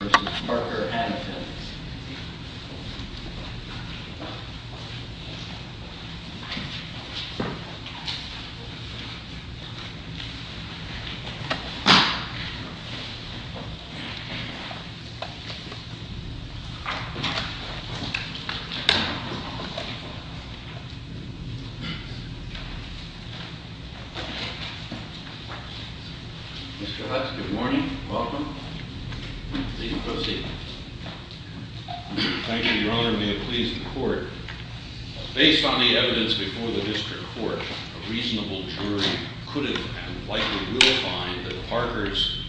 v. Parker-Hannifin Mr. Hutz, good morning, welcome Please proceed Thank you, Your Honor. May it please the court Based on the evidence before the district court, a reasonable jury could have and likely will find that Parker's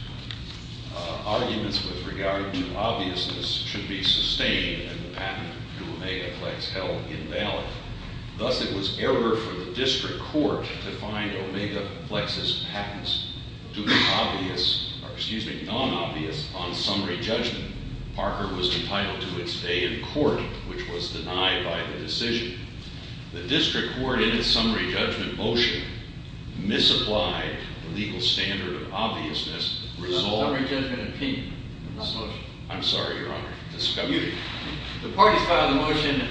arguments with regard to obviousness should be sustained and the patent to Omegaflex held invalid Thus, it was error for the district court to find Omegaflex's patents to be non-obvious on summary judgment Parker was entitled to its day in court, which was denied by the decision The district court, in its summary judgment motion, misapplied the legal standard of obviousness It's not a summary judgment opinion, it's not a motion I'm sorry, Your Honor The parties filed the motion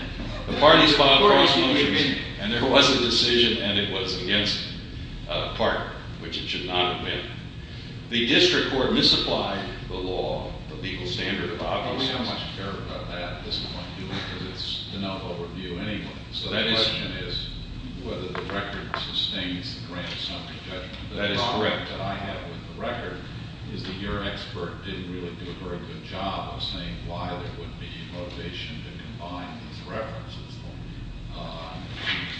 The parties filed the motion, and there was a decision, and it was against Parker, which it should not have been The district court misapplied the law, the legal standard of obviousness We don't much care about that at this point, do we? Because it's enough overview anyway So the question is whether the record sustains the grand summary judgment That is correct. What I have with the record is that your expert didn't really do a very good job of saying why there wouldn't be motivation to combine these references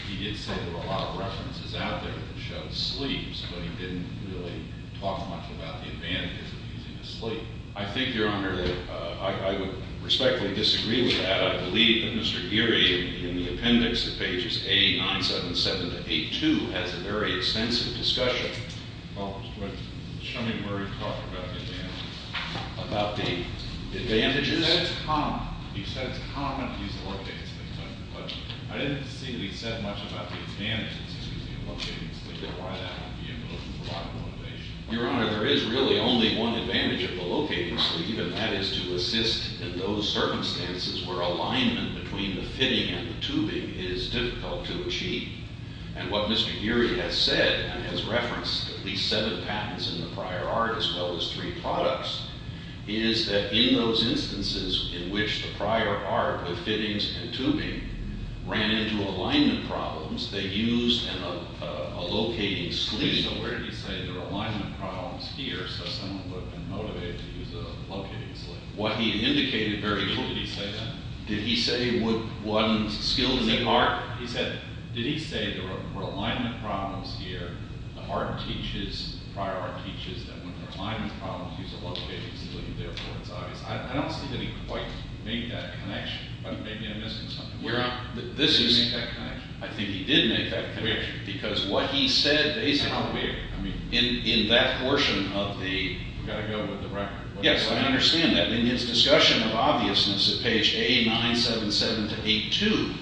He did say there were a lot of references out there that showed sleeves, but he didn't really talk much about the advantages of using a sleeve I think, Your Honor, that I would respectfully disagree with that I believe that Mr. Geary, in the appendix of pages 8, 9, 7, 7, to 8, 2, has a very extensive discussion Well, what? Show me where he talked about the advantages About the advantages? He said it's common, he said it's common to use a locating sleeve But I didn't see that he said much about the advantages of using a locating sleeve Or why that would be a motive for lack of motivation Your Honor, there is really only one advantage of the locating sleeve And that is to assist in those circumstances where alignment between the fitting and the tubing is difficult to achieve And what Mr. Geary has said and has referenced at least seven patents in the prior art as well as three products Is that in those instances in which the prior art with fittings and tubing ran into alignment problems They used a locating sleeve So where did he say there were alignment problems here, so someone would have been motivated to use a locating sleeve? What he indicated very clearly Did he say that? Did he say it wasn't skilled in the art? He said, did he say there were alignment problems here, the art teaches, the prior art teaches That when alignment problems use a locating sleeve, therefore it's obvious I don't see that he quite made that connection But maybe I'm missing something Your Honor, this is I think he did make that connection Because what he said basically I mean In that portion of the We've got to go with the record Yes, I understand that In his discussion of obviousness at page A977-82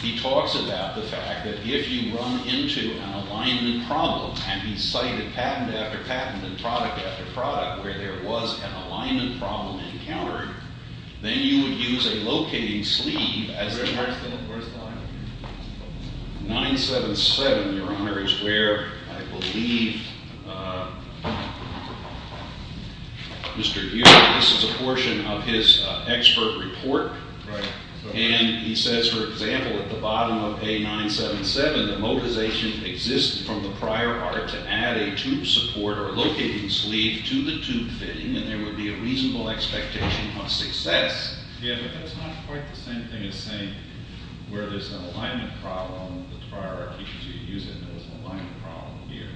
He talks about the fact that if you run into an alignment problem And he cited patent after patent and product after product where there was an alignment problem encountered Then you would use a locating sleeve Where's the alignment here? 977, Your Honor, is where I believe Mr. Hewitt, this is a portion of his expert report Right And he says, for example, at the bottom of A977 The motivation exists from the prior art to add a tube support or locating sleeve to the tube fitting And there would be a reasonable expectation of success Yes, but that's not quite the same thing as saying Where there's an alignment problem The prior art teaches you to use it And there's an alignment problem here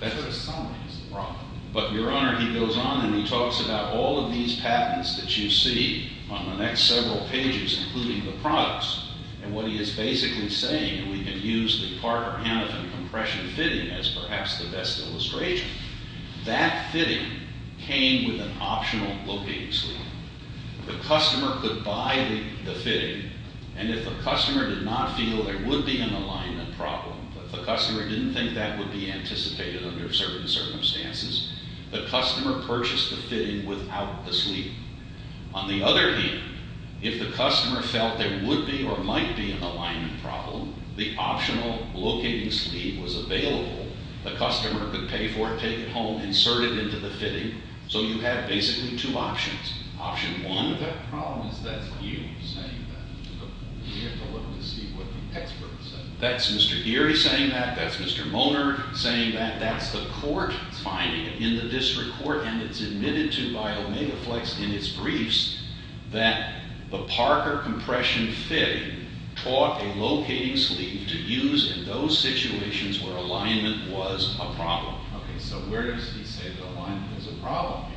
That's a summary of the problem But, Your Honor, he goes on and he talks about all of these patents that you see On the next several pages, including the products And what he is basically saying And we can use the Parker-Hanifin compression fitting as perhaps the best illustration That fitting came with an optional locating sleeve The customer could buy the fitting And if the customer did not feel there would be an alignment problem If the customer didn't think that would be anticipated under certain circumstances The customer purchased the fitting without the sleeve On the other hand, if the customer felt there would be or might be an alignment problem The optional locating sleeve was available The customer could pay for it, take it home, insert it into the fitting So you have basically two options Option one The problem is that's you saying that We have to look to see what the experts say That's Mr. Geary saying that That's Mr. Moner saying that That's the court finding it in the district court And it's admitted to by OmegaFlex in its briefs That the Parker compression fitting Taught a locating sleeve to use in those situations where alignment was a problem Okay, so where does he say that alignment is a problem here?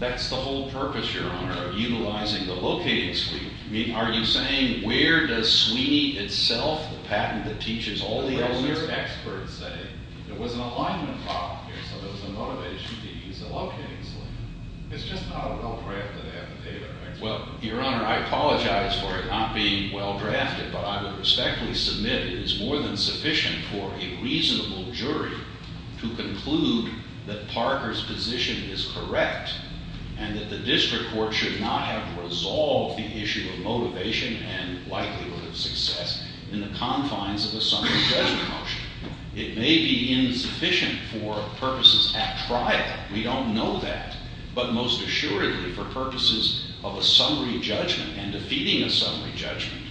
That's the whole purpose, Your Honor, of utilizing the locating sleeve Are you saying where does Sweeney itself, the patent that teaches all the elements Where does their expert say there was an alignment problem here So there was a motivation to use a locating sleeve It's just not a well-drafted affidavit either Well, Your Honor, I apologize for it not being well-drafted But I would respectfully submit it is more than sufficient for a reasonable jury To conclude that Parker's position is correct And that the district court should not have resolved the issue of motivation And likelihood of success in the confines of a summary judgment motion It may be insufficient for purposes at trial We don't know that But most assuredly for purposes of a summary judgment And defeating a summary judgment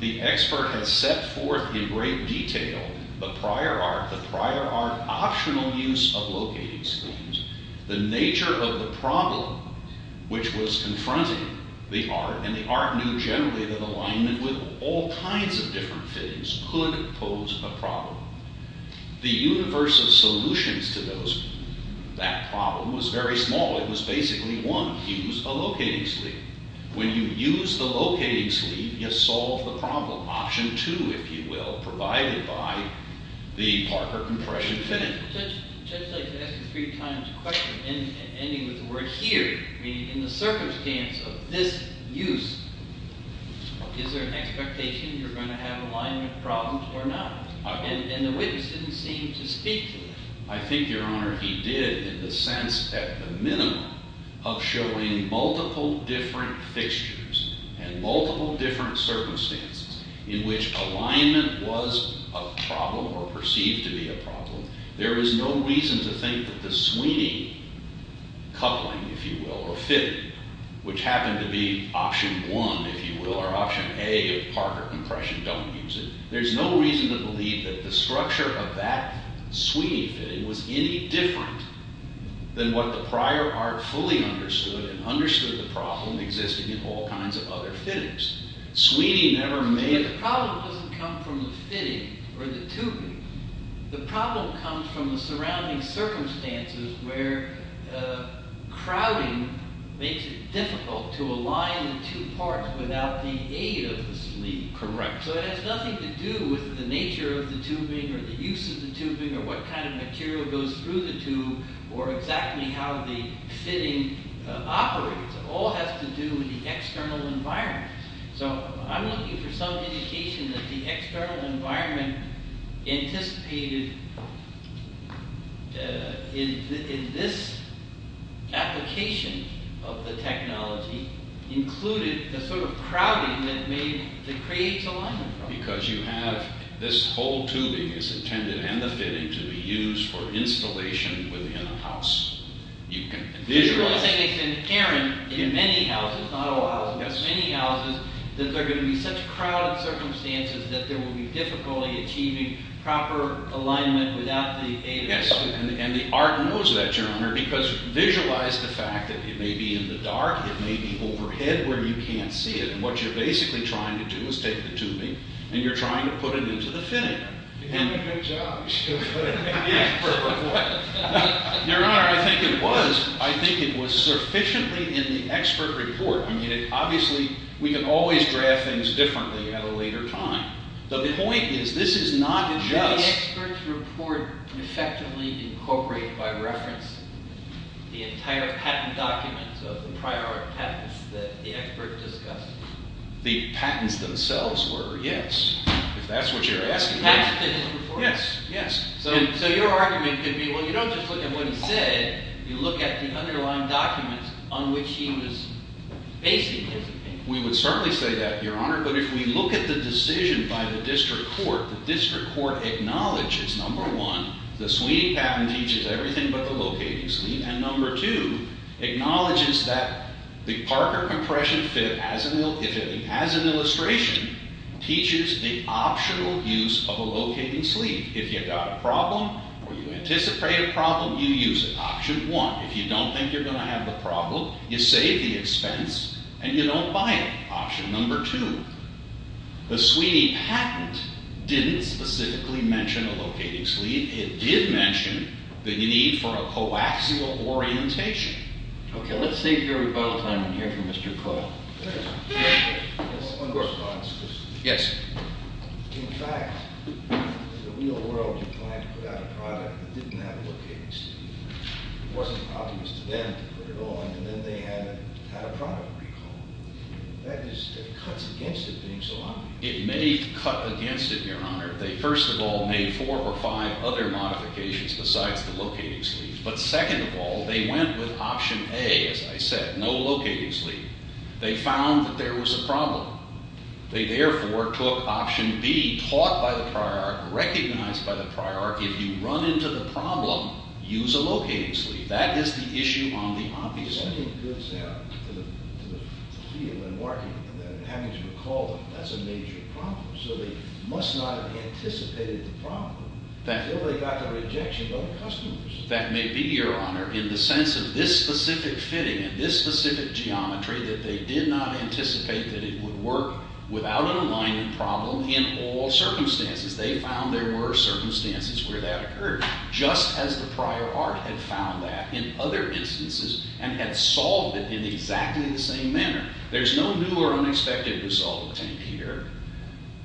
The expert has set forth in great detail the prior art The prior art optional use of locating sleeves The nature of the problem which was confronting the art And the art knew generally that alignment with all kinds of different fittings Could pose a problem The universe of solutions to that problem was very small It was basically one Use a locating sleeve When you use the locating sleeve You solve the problem Option two, if you will Provided by the Parker compression fitting Judge, I'd like to ask you three times a question Ending with the word here Meaning in the circumstance of this use Is there an expectation you're going to have alignment problems or not? And the witness didn't seem to speak to it I think, Your Honor, he did In the sense, at the minimum Of showing multiple different fixtures And multiple different circumstances In which alignment was a problem Or perceived to be a problem There is no reason to think that the Sweeney coupling, if you will Or fitting, which happened to be option one, if you will Or option A of Parker compression Don't use it There's no reason to believe that the structure of that Sweeney fitting Was any different than what the prior art fully understood And understood the problem existing in all kinds of other fittings Sweeney never made... But the problem doesn't come from the fitting or the tubing The problem comes from the surrounding circumstances Where crowding makes it difficult to align the two parts Without the aid of the sleeve Correct So it has nothing to do with the nature of the tubing Or the use of the tubing Or what kind of material goes through the tube Or exactly how the fitting operates It all has to do with the external environment So I'm looking for some indication that the external environment Anticipated in this application of the technology Included the sort of crowding that creates alignment problems Because you have... This whole tubing is intended, and the fitting To be used for installation within a house You can visualize... So you're saying it's inherent in many houses Not all houses, but many houses That there are going to be such crowded circumstances That there will be difficulty achieving proper alignment Without the aid of... Yes, and the art knows that, Your Honor Because visualize the fact that it may be in the dark It may be overhead where you can't see it And what you're basically trying to do is take the tubing And you're trying to put it into the fitting You're doing a good job Your Honor, I think it was I think it was sufficiently in the expert report I mean, obviously, we can always draft things differently At a later time The point is, this is not just... Did the expert report effectively incorporate By reference the entire patent document So the prior patents that the expert discussed The patents themselves were, yes If that's what you're asking Yes, yes So your argument could be Well, you don't just look at what he said You look at the underlying documents On which he was basing his opinion We would certainly say that, Your Honor But if we look at the decision by the district court The district court acknowledges Number one, the Sweeney patent Teaches everything but the locating scheme And number two, acknowledges that The Parker compression fit as an illustration Teaches the optional use of a locating sleeve If you've got a problem Or you anticipate a problem You use it, option one If you don't think you're going to have the problem You save the expense And you don't buy it, option number two The Sweeney patent Didn't specifically mention a locating sleeve It did mention the need for a coaxial orientation Okay, let's save your rebuttal time And hear from Mr. Coyle One response, please Yes In fact, in the real world You plan to put out a product That didn't have a locating sleeve It wasn't obvious to them to put it on And then they had a product recall That just cuts against it being so obvious It may cut against it, Your Honor They first of all made four or five other modifications Besides the locating sleeves But second of all, they went with option A As I said, no locating sleeve They found that there was a problem They therefore took option B Taught by the prior, recognized by the prior If you run into the problem Use a locating sleeve That is the issue on the obvious side I think it goes out to the field And having to recall that That's a major problem So they must not have anticipated the problem Until they got the rejection of other customers That may be, Your Honor In the sense of this specific fitting And this specific geometry That they did not anticipate that it would work Without an aligning problem In all circumstances They found there were circumstances Where that occurred Just as the prior art had found that In other instances And had solved it in exactly the same manner There's no new or unexpected result obtained here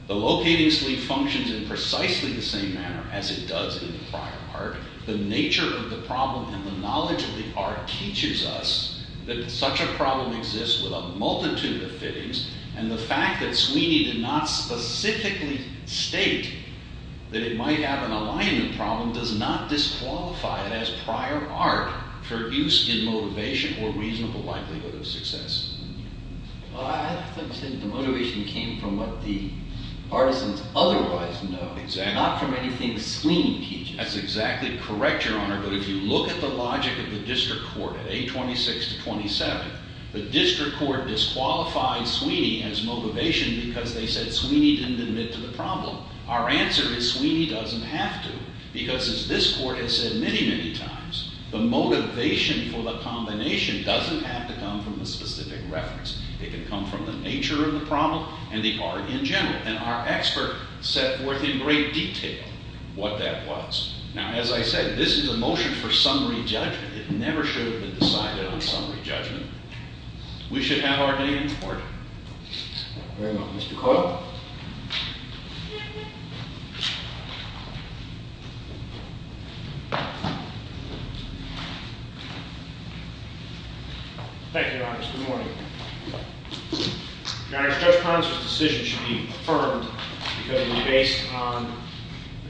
The locating sleeve functions in precisely the same manner As it does in the prior art The nature of the problem And the knowledge of the art Teaches us that such a problem exists With a multitude of fittings And the fact that Sweeney did not specifically state That it might have an aligning problem Does not disqualify it as prior art For use in motivation Or reasonable likelihood of success The motivation came from what the artisans otherwise know Not from anything Sweeney teaches That's exactly correct, Your Honor But if you look at the logic of the district court At A26 to 27 The district court disqualified Sweeney as motivation Because they said Sweeney didn't admit to the problem Our answer is Sweeney doesn't have to Because as this court has said many, many times The motivation for the combination Doesn't have to come from a specific reference It can come from the nature of the problem And the art in general And our expert set forth in great detail What that was Now, as I said, this is a motion for summary judgment It never should have been decided on summary judgment We should have our day in court Very well, Mr. Coyle Thank you, Your Honor. Good morning Your Honor, Judge Ponser's decision should be affirmed Because it will be based on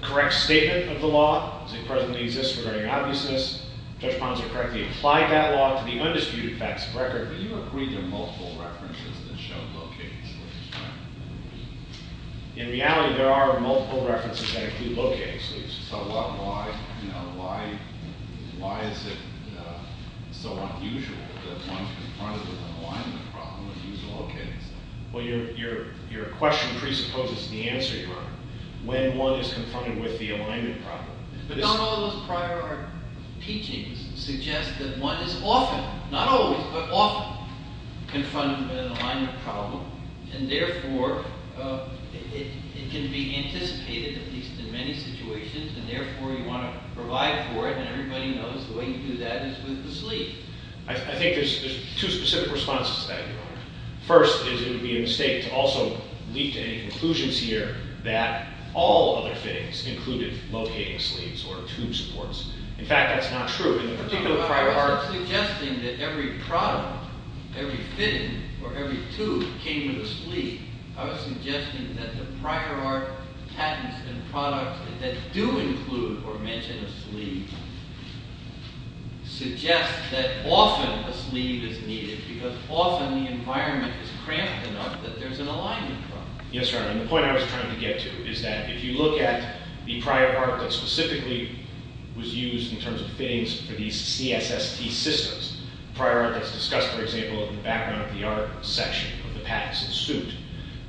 the correct statement of the law As it presently exists regarding obviousness Judge Ponser correctly applied that law To the undisputed facts of record But you agreed there are multiple references That show locating sleeves, right? In reality, there are multiple references That do locate sleeves So why is it so unusual That one is confronted with an alignment problem And uses locating sleeves? Well, your question presupposes the answer, Your Honor When one is confronted with the alignment problem But not all those prior teachings Suggest that one is often Not always, but often Confronted with an alignment problem And therefore It can be anticipated At least in many situations And therefore you want to provide for it And everybody knows the way you do that is with the sleeve I think there's two specific responses to that, Your Honor First is it would be a mistake to also Leap to any conclusions here That all other fittings included Locating sleeves or tube supports In fact, that's not true In the particular prior art I'm not suggesting that every product Every fitting or every tube Came with a sleeve I was suggesting that the prior art Patents and products That do include or mention a sleeve Suggest that often A sleeve is needed because Often the environment is cramped enough That there's an alignment problem Yes, Your Honor, and the point I was trying to get to Is that if you look at the prior art That specifically was used In terms of fittings for these CSST systems Prior art that's discussed, for example In the background of the art section Of the patent suit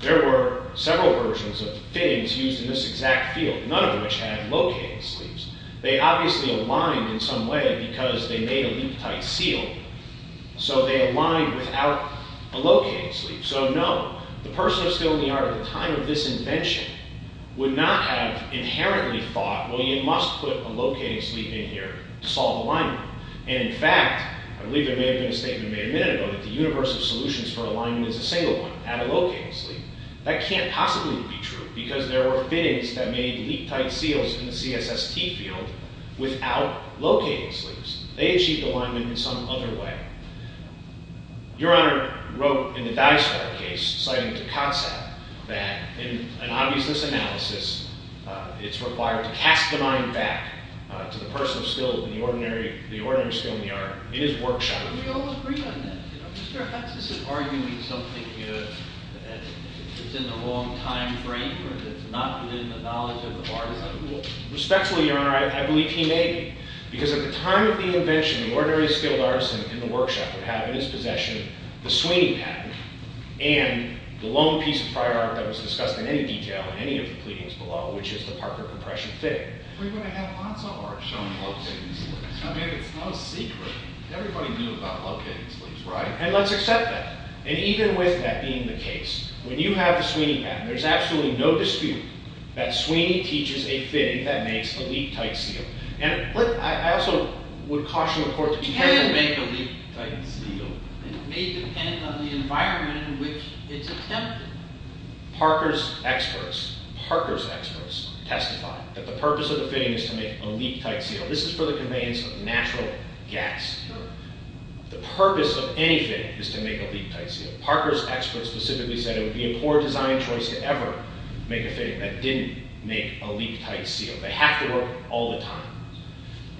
There were several versions of fittings Used in this exact field None of which had locating sleeves They obviously aligned in some way Because they made a leak-tight seal So they aligned without A locating sleeve So no, the person who was filling the art At the time of this invention Would not have inherently thought Well, you must put a locating sleeve in here To solve alignment And in fact, I believe there may have been a statement Made a minute ago that the universe of solutions For alignment is a single one, not a locating sleeve That can't possibly be true Because there were fittings that made Leak-tight seals in the CSST field Without locating sleeves They achieved alignment in some other way Your Honor Wrote in the Dicefile case Citing to Kotzeb That in an obviousness analysis It's required to cast the mind back To the person still In the ordinary skill in the art In his workshop Respectfully, Your Honor, I believe he made it Because at the time of the invention The ordinary skilled artisan in the workshop Would have in his possession The Sweeney pattern And the lone piece of prior art That was discussed in any detail in any of the pleadings below Which is the Parker compression fitting Everybody knew about locating sleeves, right? And let's accept that And even with that being the case When you have the Sweeney pattern There's absolutely no dispute That Sweeney teaches a fitting that makes a leak-tight seal And I also would caution the Court It can make a leak-tight seal It may depend on the environment In which it's attempted Parker's experts Parker's experts Testify that the purpose of the fitting Is to make a leak-tight seal This is for the conveyance of natural gas The purpose of any fitting Is to make a leak-tight seal Parker's experts specifically said It would be a poor design choice to ever Make a fitting that didn't make a leak-tight seal They have to work all the time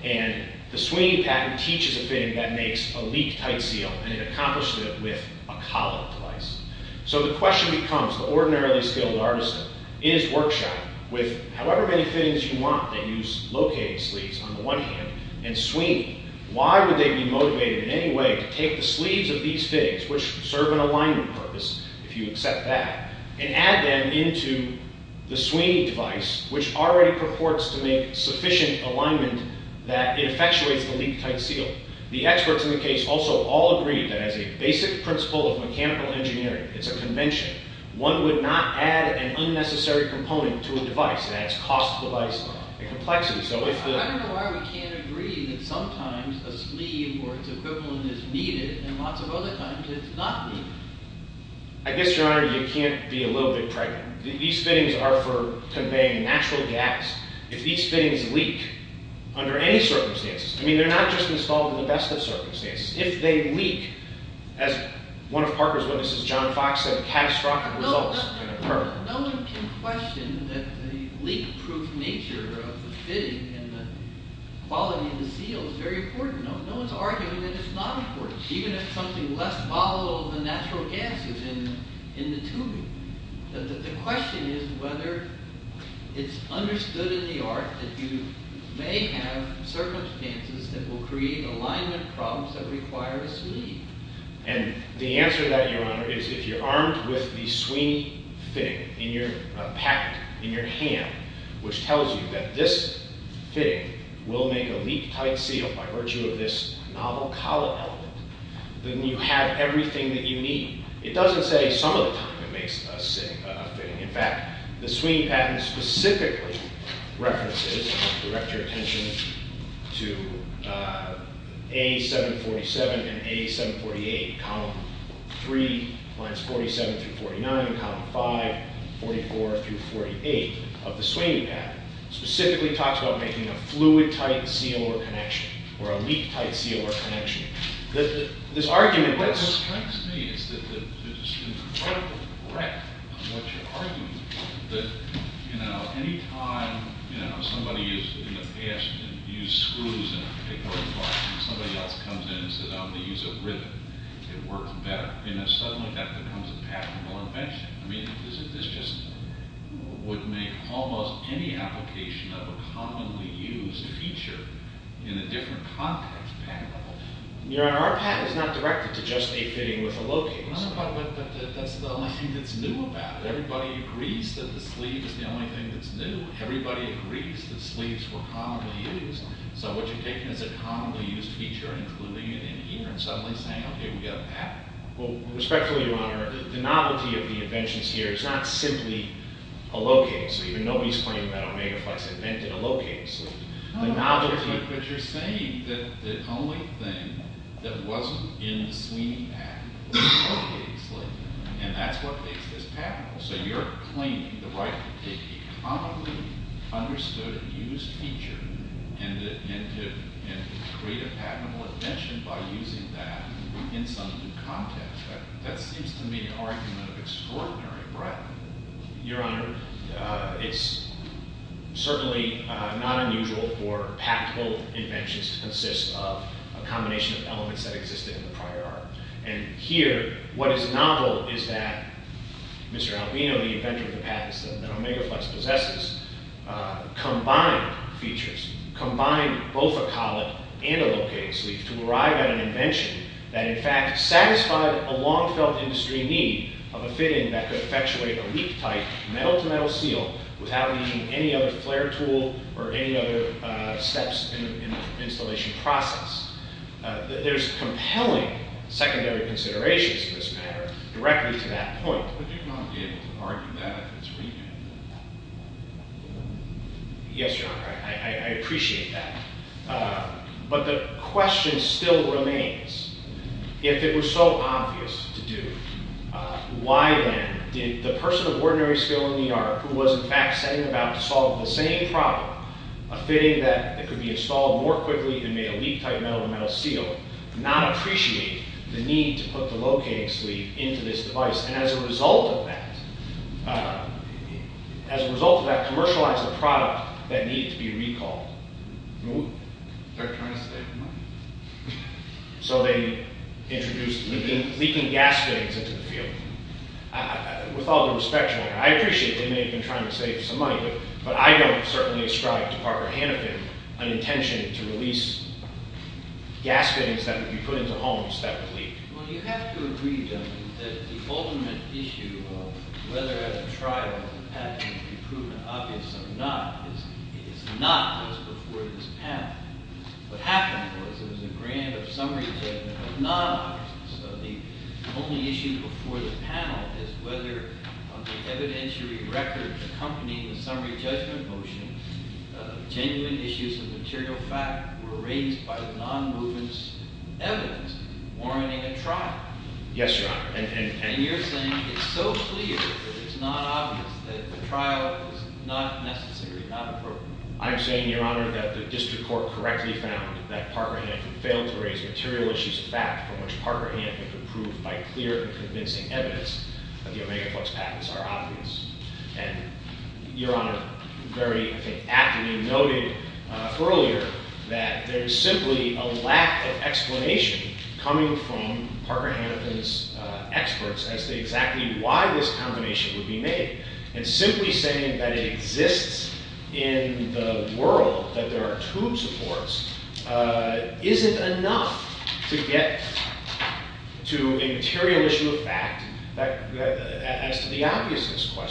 And the Sweeney pattern Teaches a fitting that makes a leak-tight seal And it accomplished it With a collet device So the question becomes The ordinarily skilled artisan In his workshop With however many fittings you want That use locating sleeves on the one hand And Sweeney Why would they be motivated in any way To take the sleeves of these fittings Which serve an alignment purpose If you accept that And add them into the Sweeney device Which already purports to make sufficient alignment That it effectuates the leak-tight seal The experts in the case Also all agreed that As a basic principle of mechanical engineering It's a convention One would not add an unnecessary component To a device That's cost the device a complexity I don't know why we can't agree That sometimes a sleeve or it's equivalent Is needed and lots of other times It's not needed I guess your honor you can't be a little bit pregnant These fittings are for Conveying natural gas If these fittings leak Under any circumstances I mean they're not just installed in the best of circumstances If they leak As one of Parker's witnesses John Fox said Catastrophic results can occur No one can question that the leak-proof nature Of the fitting And the quality of the seal Is very important No one's arguing that it's not important Even if something less volatile than natural gas Is in the tubing The question is whether It's understood in the art That you may have Circumstances that will create Alignment problems that require a sleeve And the answer to that Your honor is if you're armed with The Sweeney fitting in your Packet in your hand Which tells you that this Fitting will make a leak-tight seal By virtue of this novel Collet element Then you have everything that you need It doesn't say some of the time it makes a fitting In fact the Sweeney patent Specifically references And I direct your attention To A747 And A748 3-47-49 5-44-48 Of the Sweeney patent Specifically talks about Making a fluid-tight seal Or leak-tight seal Or connection What this tells me Is that it's incredibly correct On what you're arguing That anytime Somebody in the past Used screws And somebody else comes in And says I'm going to use a ribbon It works better And suddenly that becomes a patentable invention This just would make Almost any application Of a commonly used feature In a different context patentable Your honor our patent is not directed To just a fitting with a locating But that's the only thing that's new About it. Everybody agrees That the sleeve is the only thing that's new Everybody agrees that sleeves were commonly used So what you're taking Is a commonly used feature And including it in here and suddenly saying Okay we've got a patent Well respectfully your honor the novelty of the inventions here Is not simply a locating So even nobody's claiming that Omega Flex Invented a locating sleeve But you're saying that the only thing That wasn't in the Sweeney patent Was a locating sleeve And that's what makes this patentable So you're claiming the right to take A commonly understood Used feature And to create a patentable invention By using that In some new context That seems to me an argument Of extraordinary breadth Your honor It's certainly not unusual For patentable inventions To consist of a combination of elements That existed in the prior art And here what is novel Is that Mr. Albino The inventor of the patents that Omega Flex Possesses Combined features Combined both a collet and a locating sleeve To arrive at an invention That in fact satisfied a long Felt industry need of a fitting That could effectuate a leak tight Metal to metal seal without needing Any other flare tool or any other Steps in the installation Process There's compelling secondary Considerations to this matter Directly to that point Would you not be able to argue that Yes your honor I appreciate that But the question Still remains If it was so obvious to do Why then Did the person of ordinary skill in the art Who was in fact setting about to solve The same problem A fitting that could be installed more quickly And made a leak tight metal to metal seal Not appreciate The need to put the locating sleeve Into this device and as a result of that As a result of that Commercialized a product That needed to be recalled They're trying to save money So they Introduced leaking Gaskets into the field With all due respect your honor I appreciate they may have been trying to save some money But I don't certainly ascribe to Parker Hanifin an intention to release Gaskets that would be put into homes That would leak Well you have to agree your honor That the ultimate issue of whether At a trial It would be proven obvious or not Is not what's before this panel What happened was There was a grant of summary judgment Of non-artists The only issue before the panel Is whether on the evidentiary record Accompanying the summary judgment motion Genuine issues Of material fact were raised By the non-movement's evidence Warranting a trial Yes your honor And you're saying it's so clear That it's not obvious that the trial Is not necessary, not appropriate I'm saying your honor that the district court Correctly found that Parker Hanifin Failed to raise material issues of fact From which Parker Hanifin could prove by clear And convincing evidence That the Omega Flux patents are obvious And your honor Your honor Very aptly noted Earlier that there's simply A lack of explanation Coming from Parker Hanifin's Experts as to exactly Why this combination would be made And simply saying that it exists In the world That there are two supports Isn't enough To get To a material issue of fact As to the obviousness Why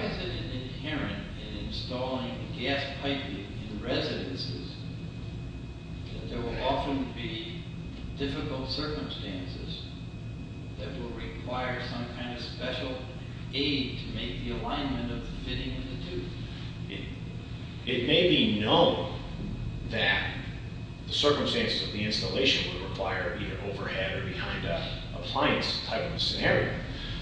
is it inherent In installing a gas pipe In residences That there will often be Difficult circumstances That will require Some kind of special aid To make the alignment Of the fitting in the tube It may be known That the circumstances Of the installation would require Either overhead or behind a Appliance type of scenario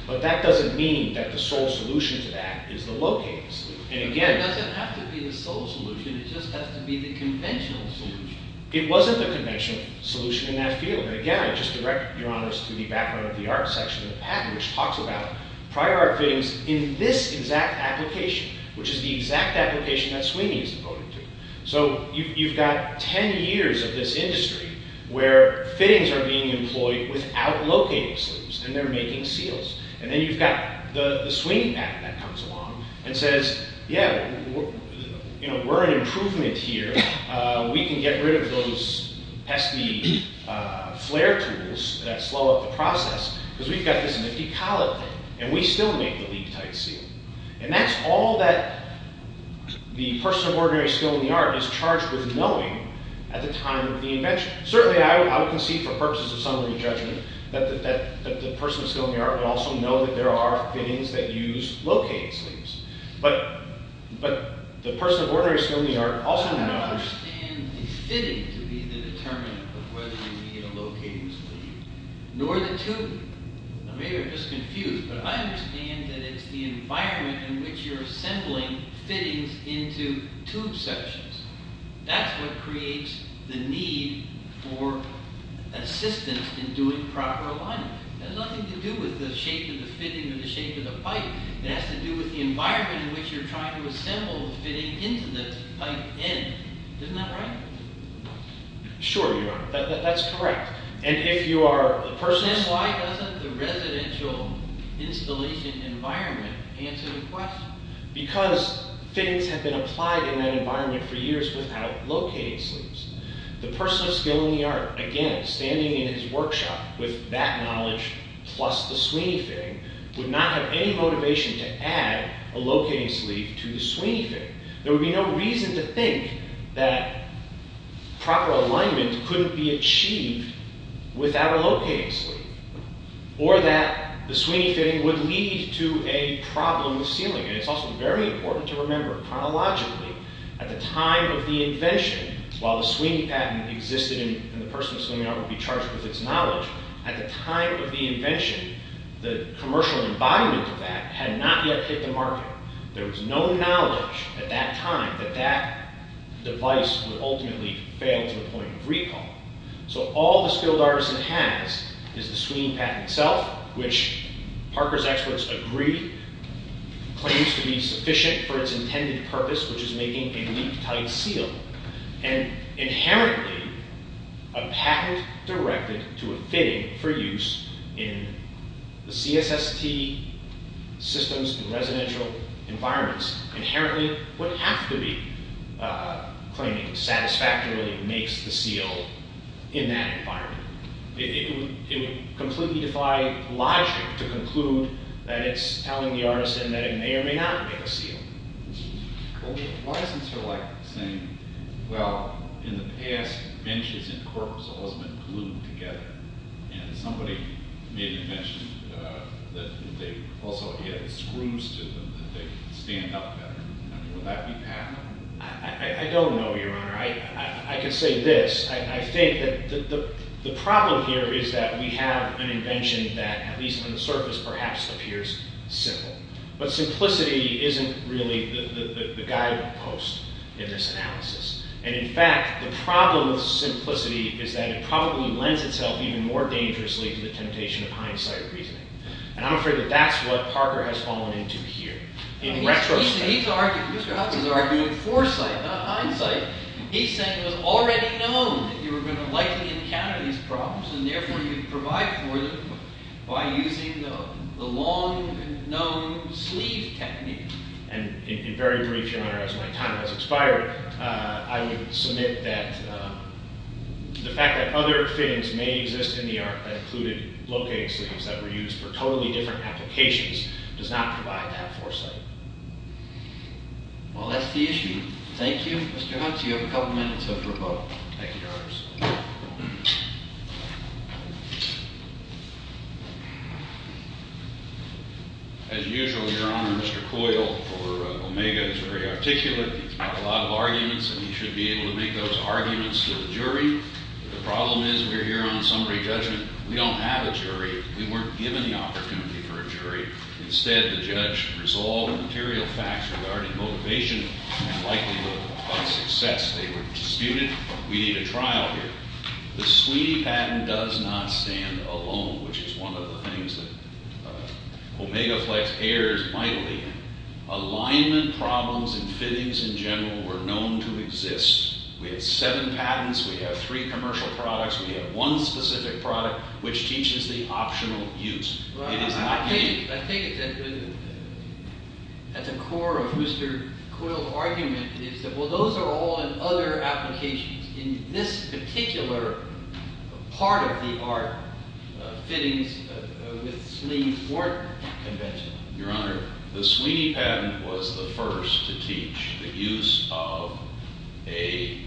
But that doesn't mean That the sole solution to that Is the locating sluice It doesn't have to be the sole solution It just has to be the conventional solution It wasn't the conventional solution in that field And again I just direct your honors To the background of the art section of the patent Which talks about prior art fittings In this exact application Which is the exact application that Sweeney is devoted to So you've got Ten years of this industry Where fittings are being employed Without locating sluice And they're making seals And then you've got the Sweeney patent That comes along and says Yeah, we're an improvement here We can get rid of those Pesty flare tools That slow up the process Because we've got this nifty collet thing And we still make the leak tight seal And that's all that The person of ordinary skill In the art is charged with knowing At the time of the invention Certainly I would concede For purposes of summary judgment That the person of skill in the art Would also know that there are fittings That use locating sluice But the person of ordinary skill in the art I don't understand the fitting To be the determinant Of whether you need a locating sluice Nor the tubing Now maybe you're just confused But I understand that it's the environment In which you're assembling fittings Into tube sections That's what creates The need for Assistance in doing proper alignment That has nothing to do with The shape of the fitting or the shape of the pipe It has to do with the environment In which you're trying to assemble the fitting Into the pipe end Isn't that right? Sure you are, that's correct And if you are a person of skill Then why doesn't the residential Installation environment answer the question? Because fittings have been In that environment for years without locating sluice The person of skill in the art Again, standing in his workshop With that knowledge Plus the Sweeney fitting Would not have any motivation to add A locating sluice to the Sweeney fitting There would be no reason to think That proper alignment Couldn't be achieved Without a locating sluice Or that the Sweeney fitting Would lead to a problem With sealing And it's also very important to remember Chronologically, at the time of the invention While the Sweeney patent existed And the person of skill in the art Would be charged with its knowledge At the time of the invention The commercial environment of that Had not yet hit the market There was no knowledge at that time That that device would ultimately Fail to the point of recall So all the skilled artisan has Is the Sweeney patent itself Which Parker's experts agree Claims to be sufficient For its intended purpose Which is making a leak-tight seal And inherently A patent directed To a fitting for use In the CSST Systems and residential Environments Inherently would have to be Claiming satisfactorily Makes the seal In that environment It would completely defy logic To conclude that it's telling The artisan that it may or may not Make a seal Why is it sort of like saying Well, in the past Benches and corks have always been glued together And somebody Maybe mentioned that They also had screws to them That they could stand up better Would that be patent? I don't know, your honor I can say this The problem here is that We have an invention that At least on the surface perhaps appears simple But simplicity isn't really The guidepost In this analysis And in fact the problem with simplicity Is that it probably lends itself Even more dangerously to the temptation Of hindsight reasoning And I'm afraid that that's what Parker has fallen into here In retrospect Mr. Hudson's arguing foresight Not hindsight He's saying it was already known That you were going to likely encounter these problems And therefore you provide for them By using the long Known sleeve technique And in very brief Your honor as my time has expired I would submit that The fact that Other things may exist in the art That included locating sleeves That were used for totally different applications Does not provide that foresight Well that's the issue Thank you Mr. Hudson you have a couple minutes left for a vote Thank you your honor As usual your honor Mr. Coyle For Omega is very articulate He's got a lot of arguments And he should be able to make those arguments to the jury The problem is we're here on summary judgment We don't have a jury We weren't given the opportunity for a jury Instead the judge Resolved material facts regarding motivation And likelihood of success They were disputed We need a trial here The Sweeney patent does not stand alone Which is one of the things that Omega Flex errors might lead Alignment problems And fittings in general Were known to exist We have seven patents We have three commercial products We have one specific product Which teaches the optional use It is not unique I think At the core of Mr. Coyle's argument Is that well those are all In other applications In this particular Part of the art Fittings with Sweeney Weren't conventional Your honor the Sweeney patent Was the first to teach the use Of a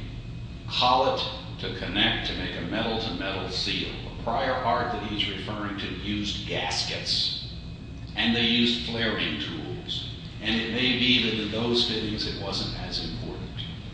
Collet to connect To make a metal to metal seal A prior art that he's referring to They used gaskets And they used flaring tools And it may be that in those fittings It wasn't as important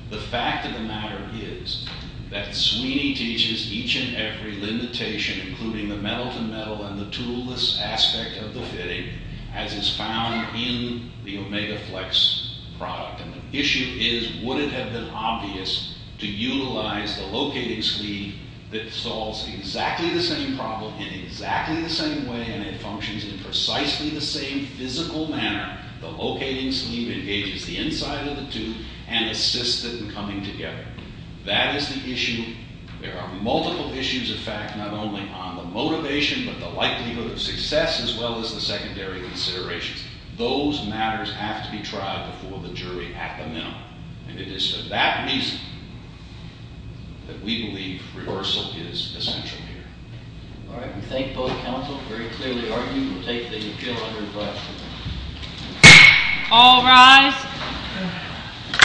The fact of the matter is That Sweeney teaches Each and every limitation Including the metal to metal And the tool-less aspect of the fitting As is found in the Omega Flex product And the issue is Would it have been obvious To utilize the locating sleeve That solves exactly the same problem In exactly the same way And it functions in precisely the same Physical manner The locating sleeve engages the inside of the tube And assists it in coming together That is the issue There are multiple issues in fact Not only on the motivation But the likelihood of success As well as the secondary considerations Those matters have to be tried Before the jury at the minimum And it is for that reason That we believe Reversal is essential here All right, we thank both counsel Very clearly argued We'll take the appeal under the platform All rise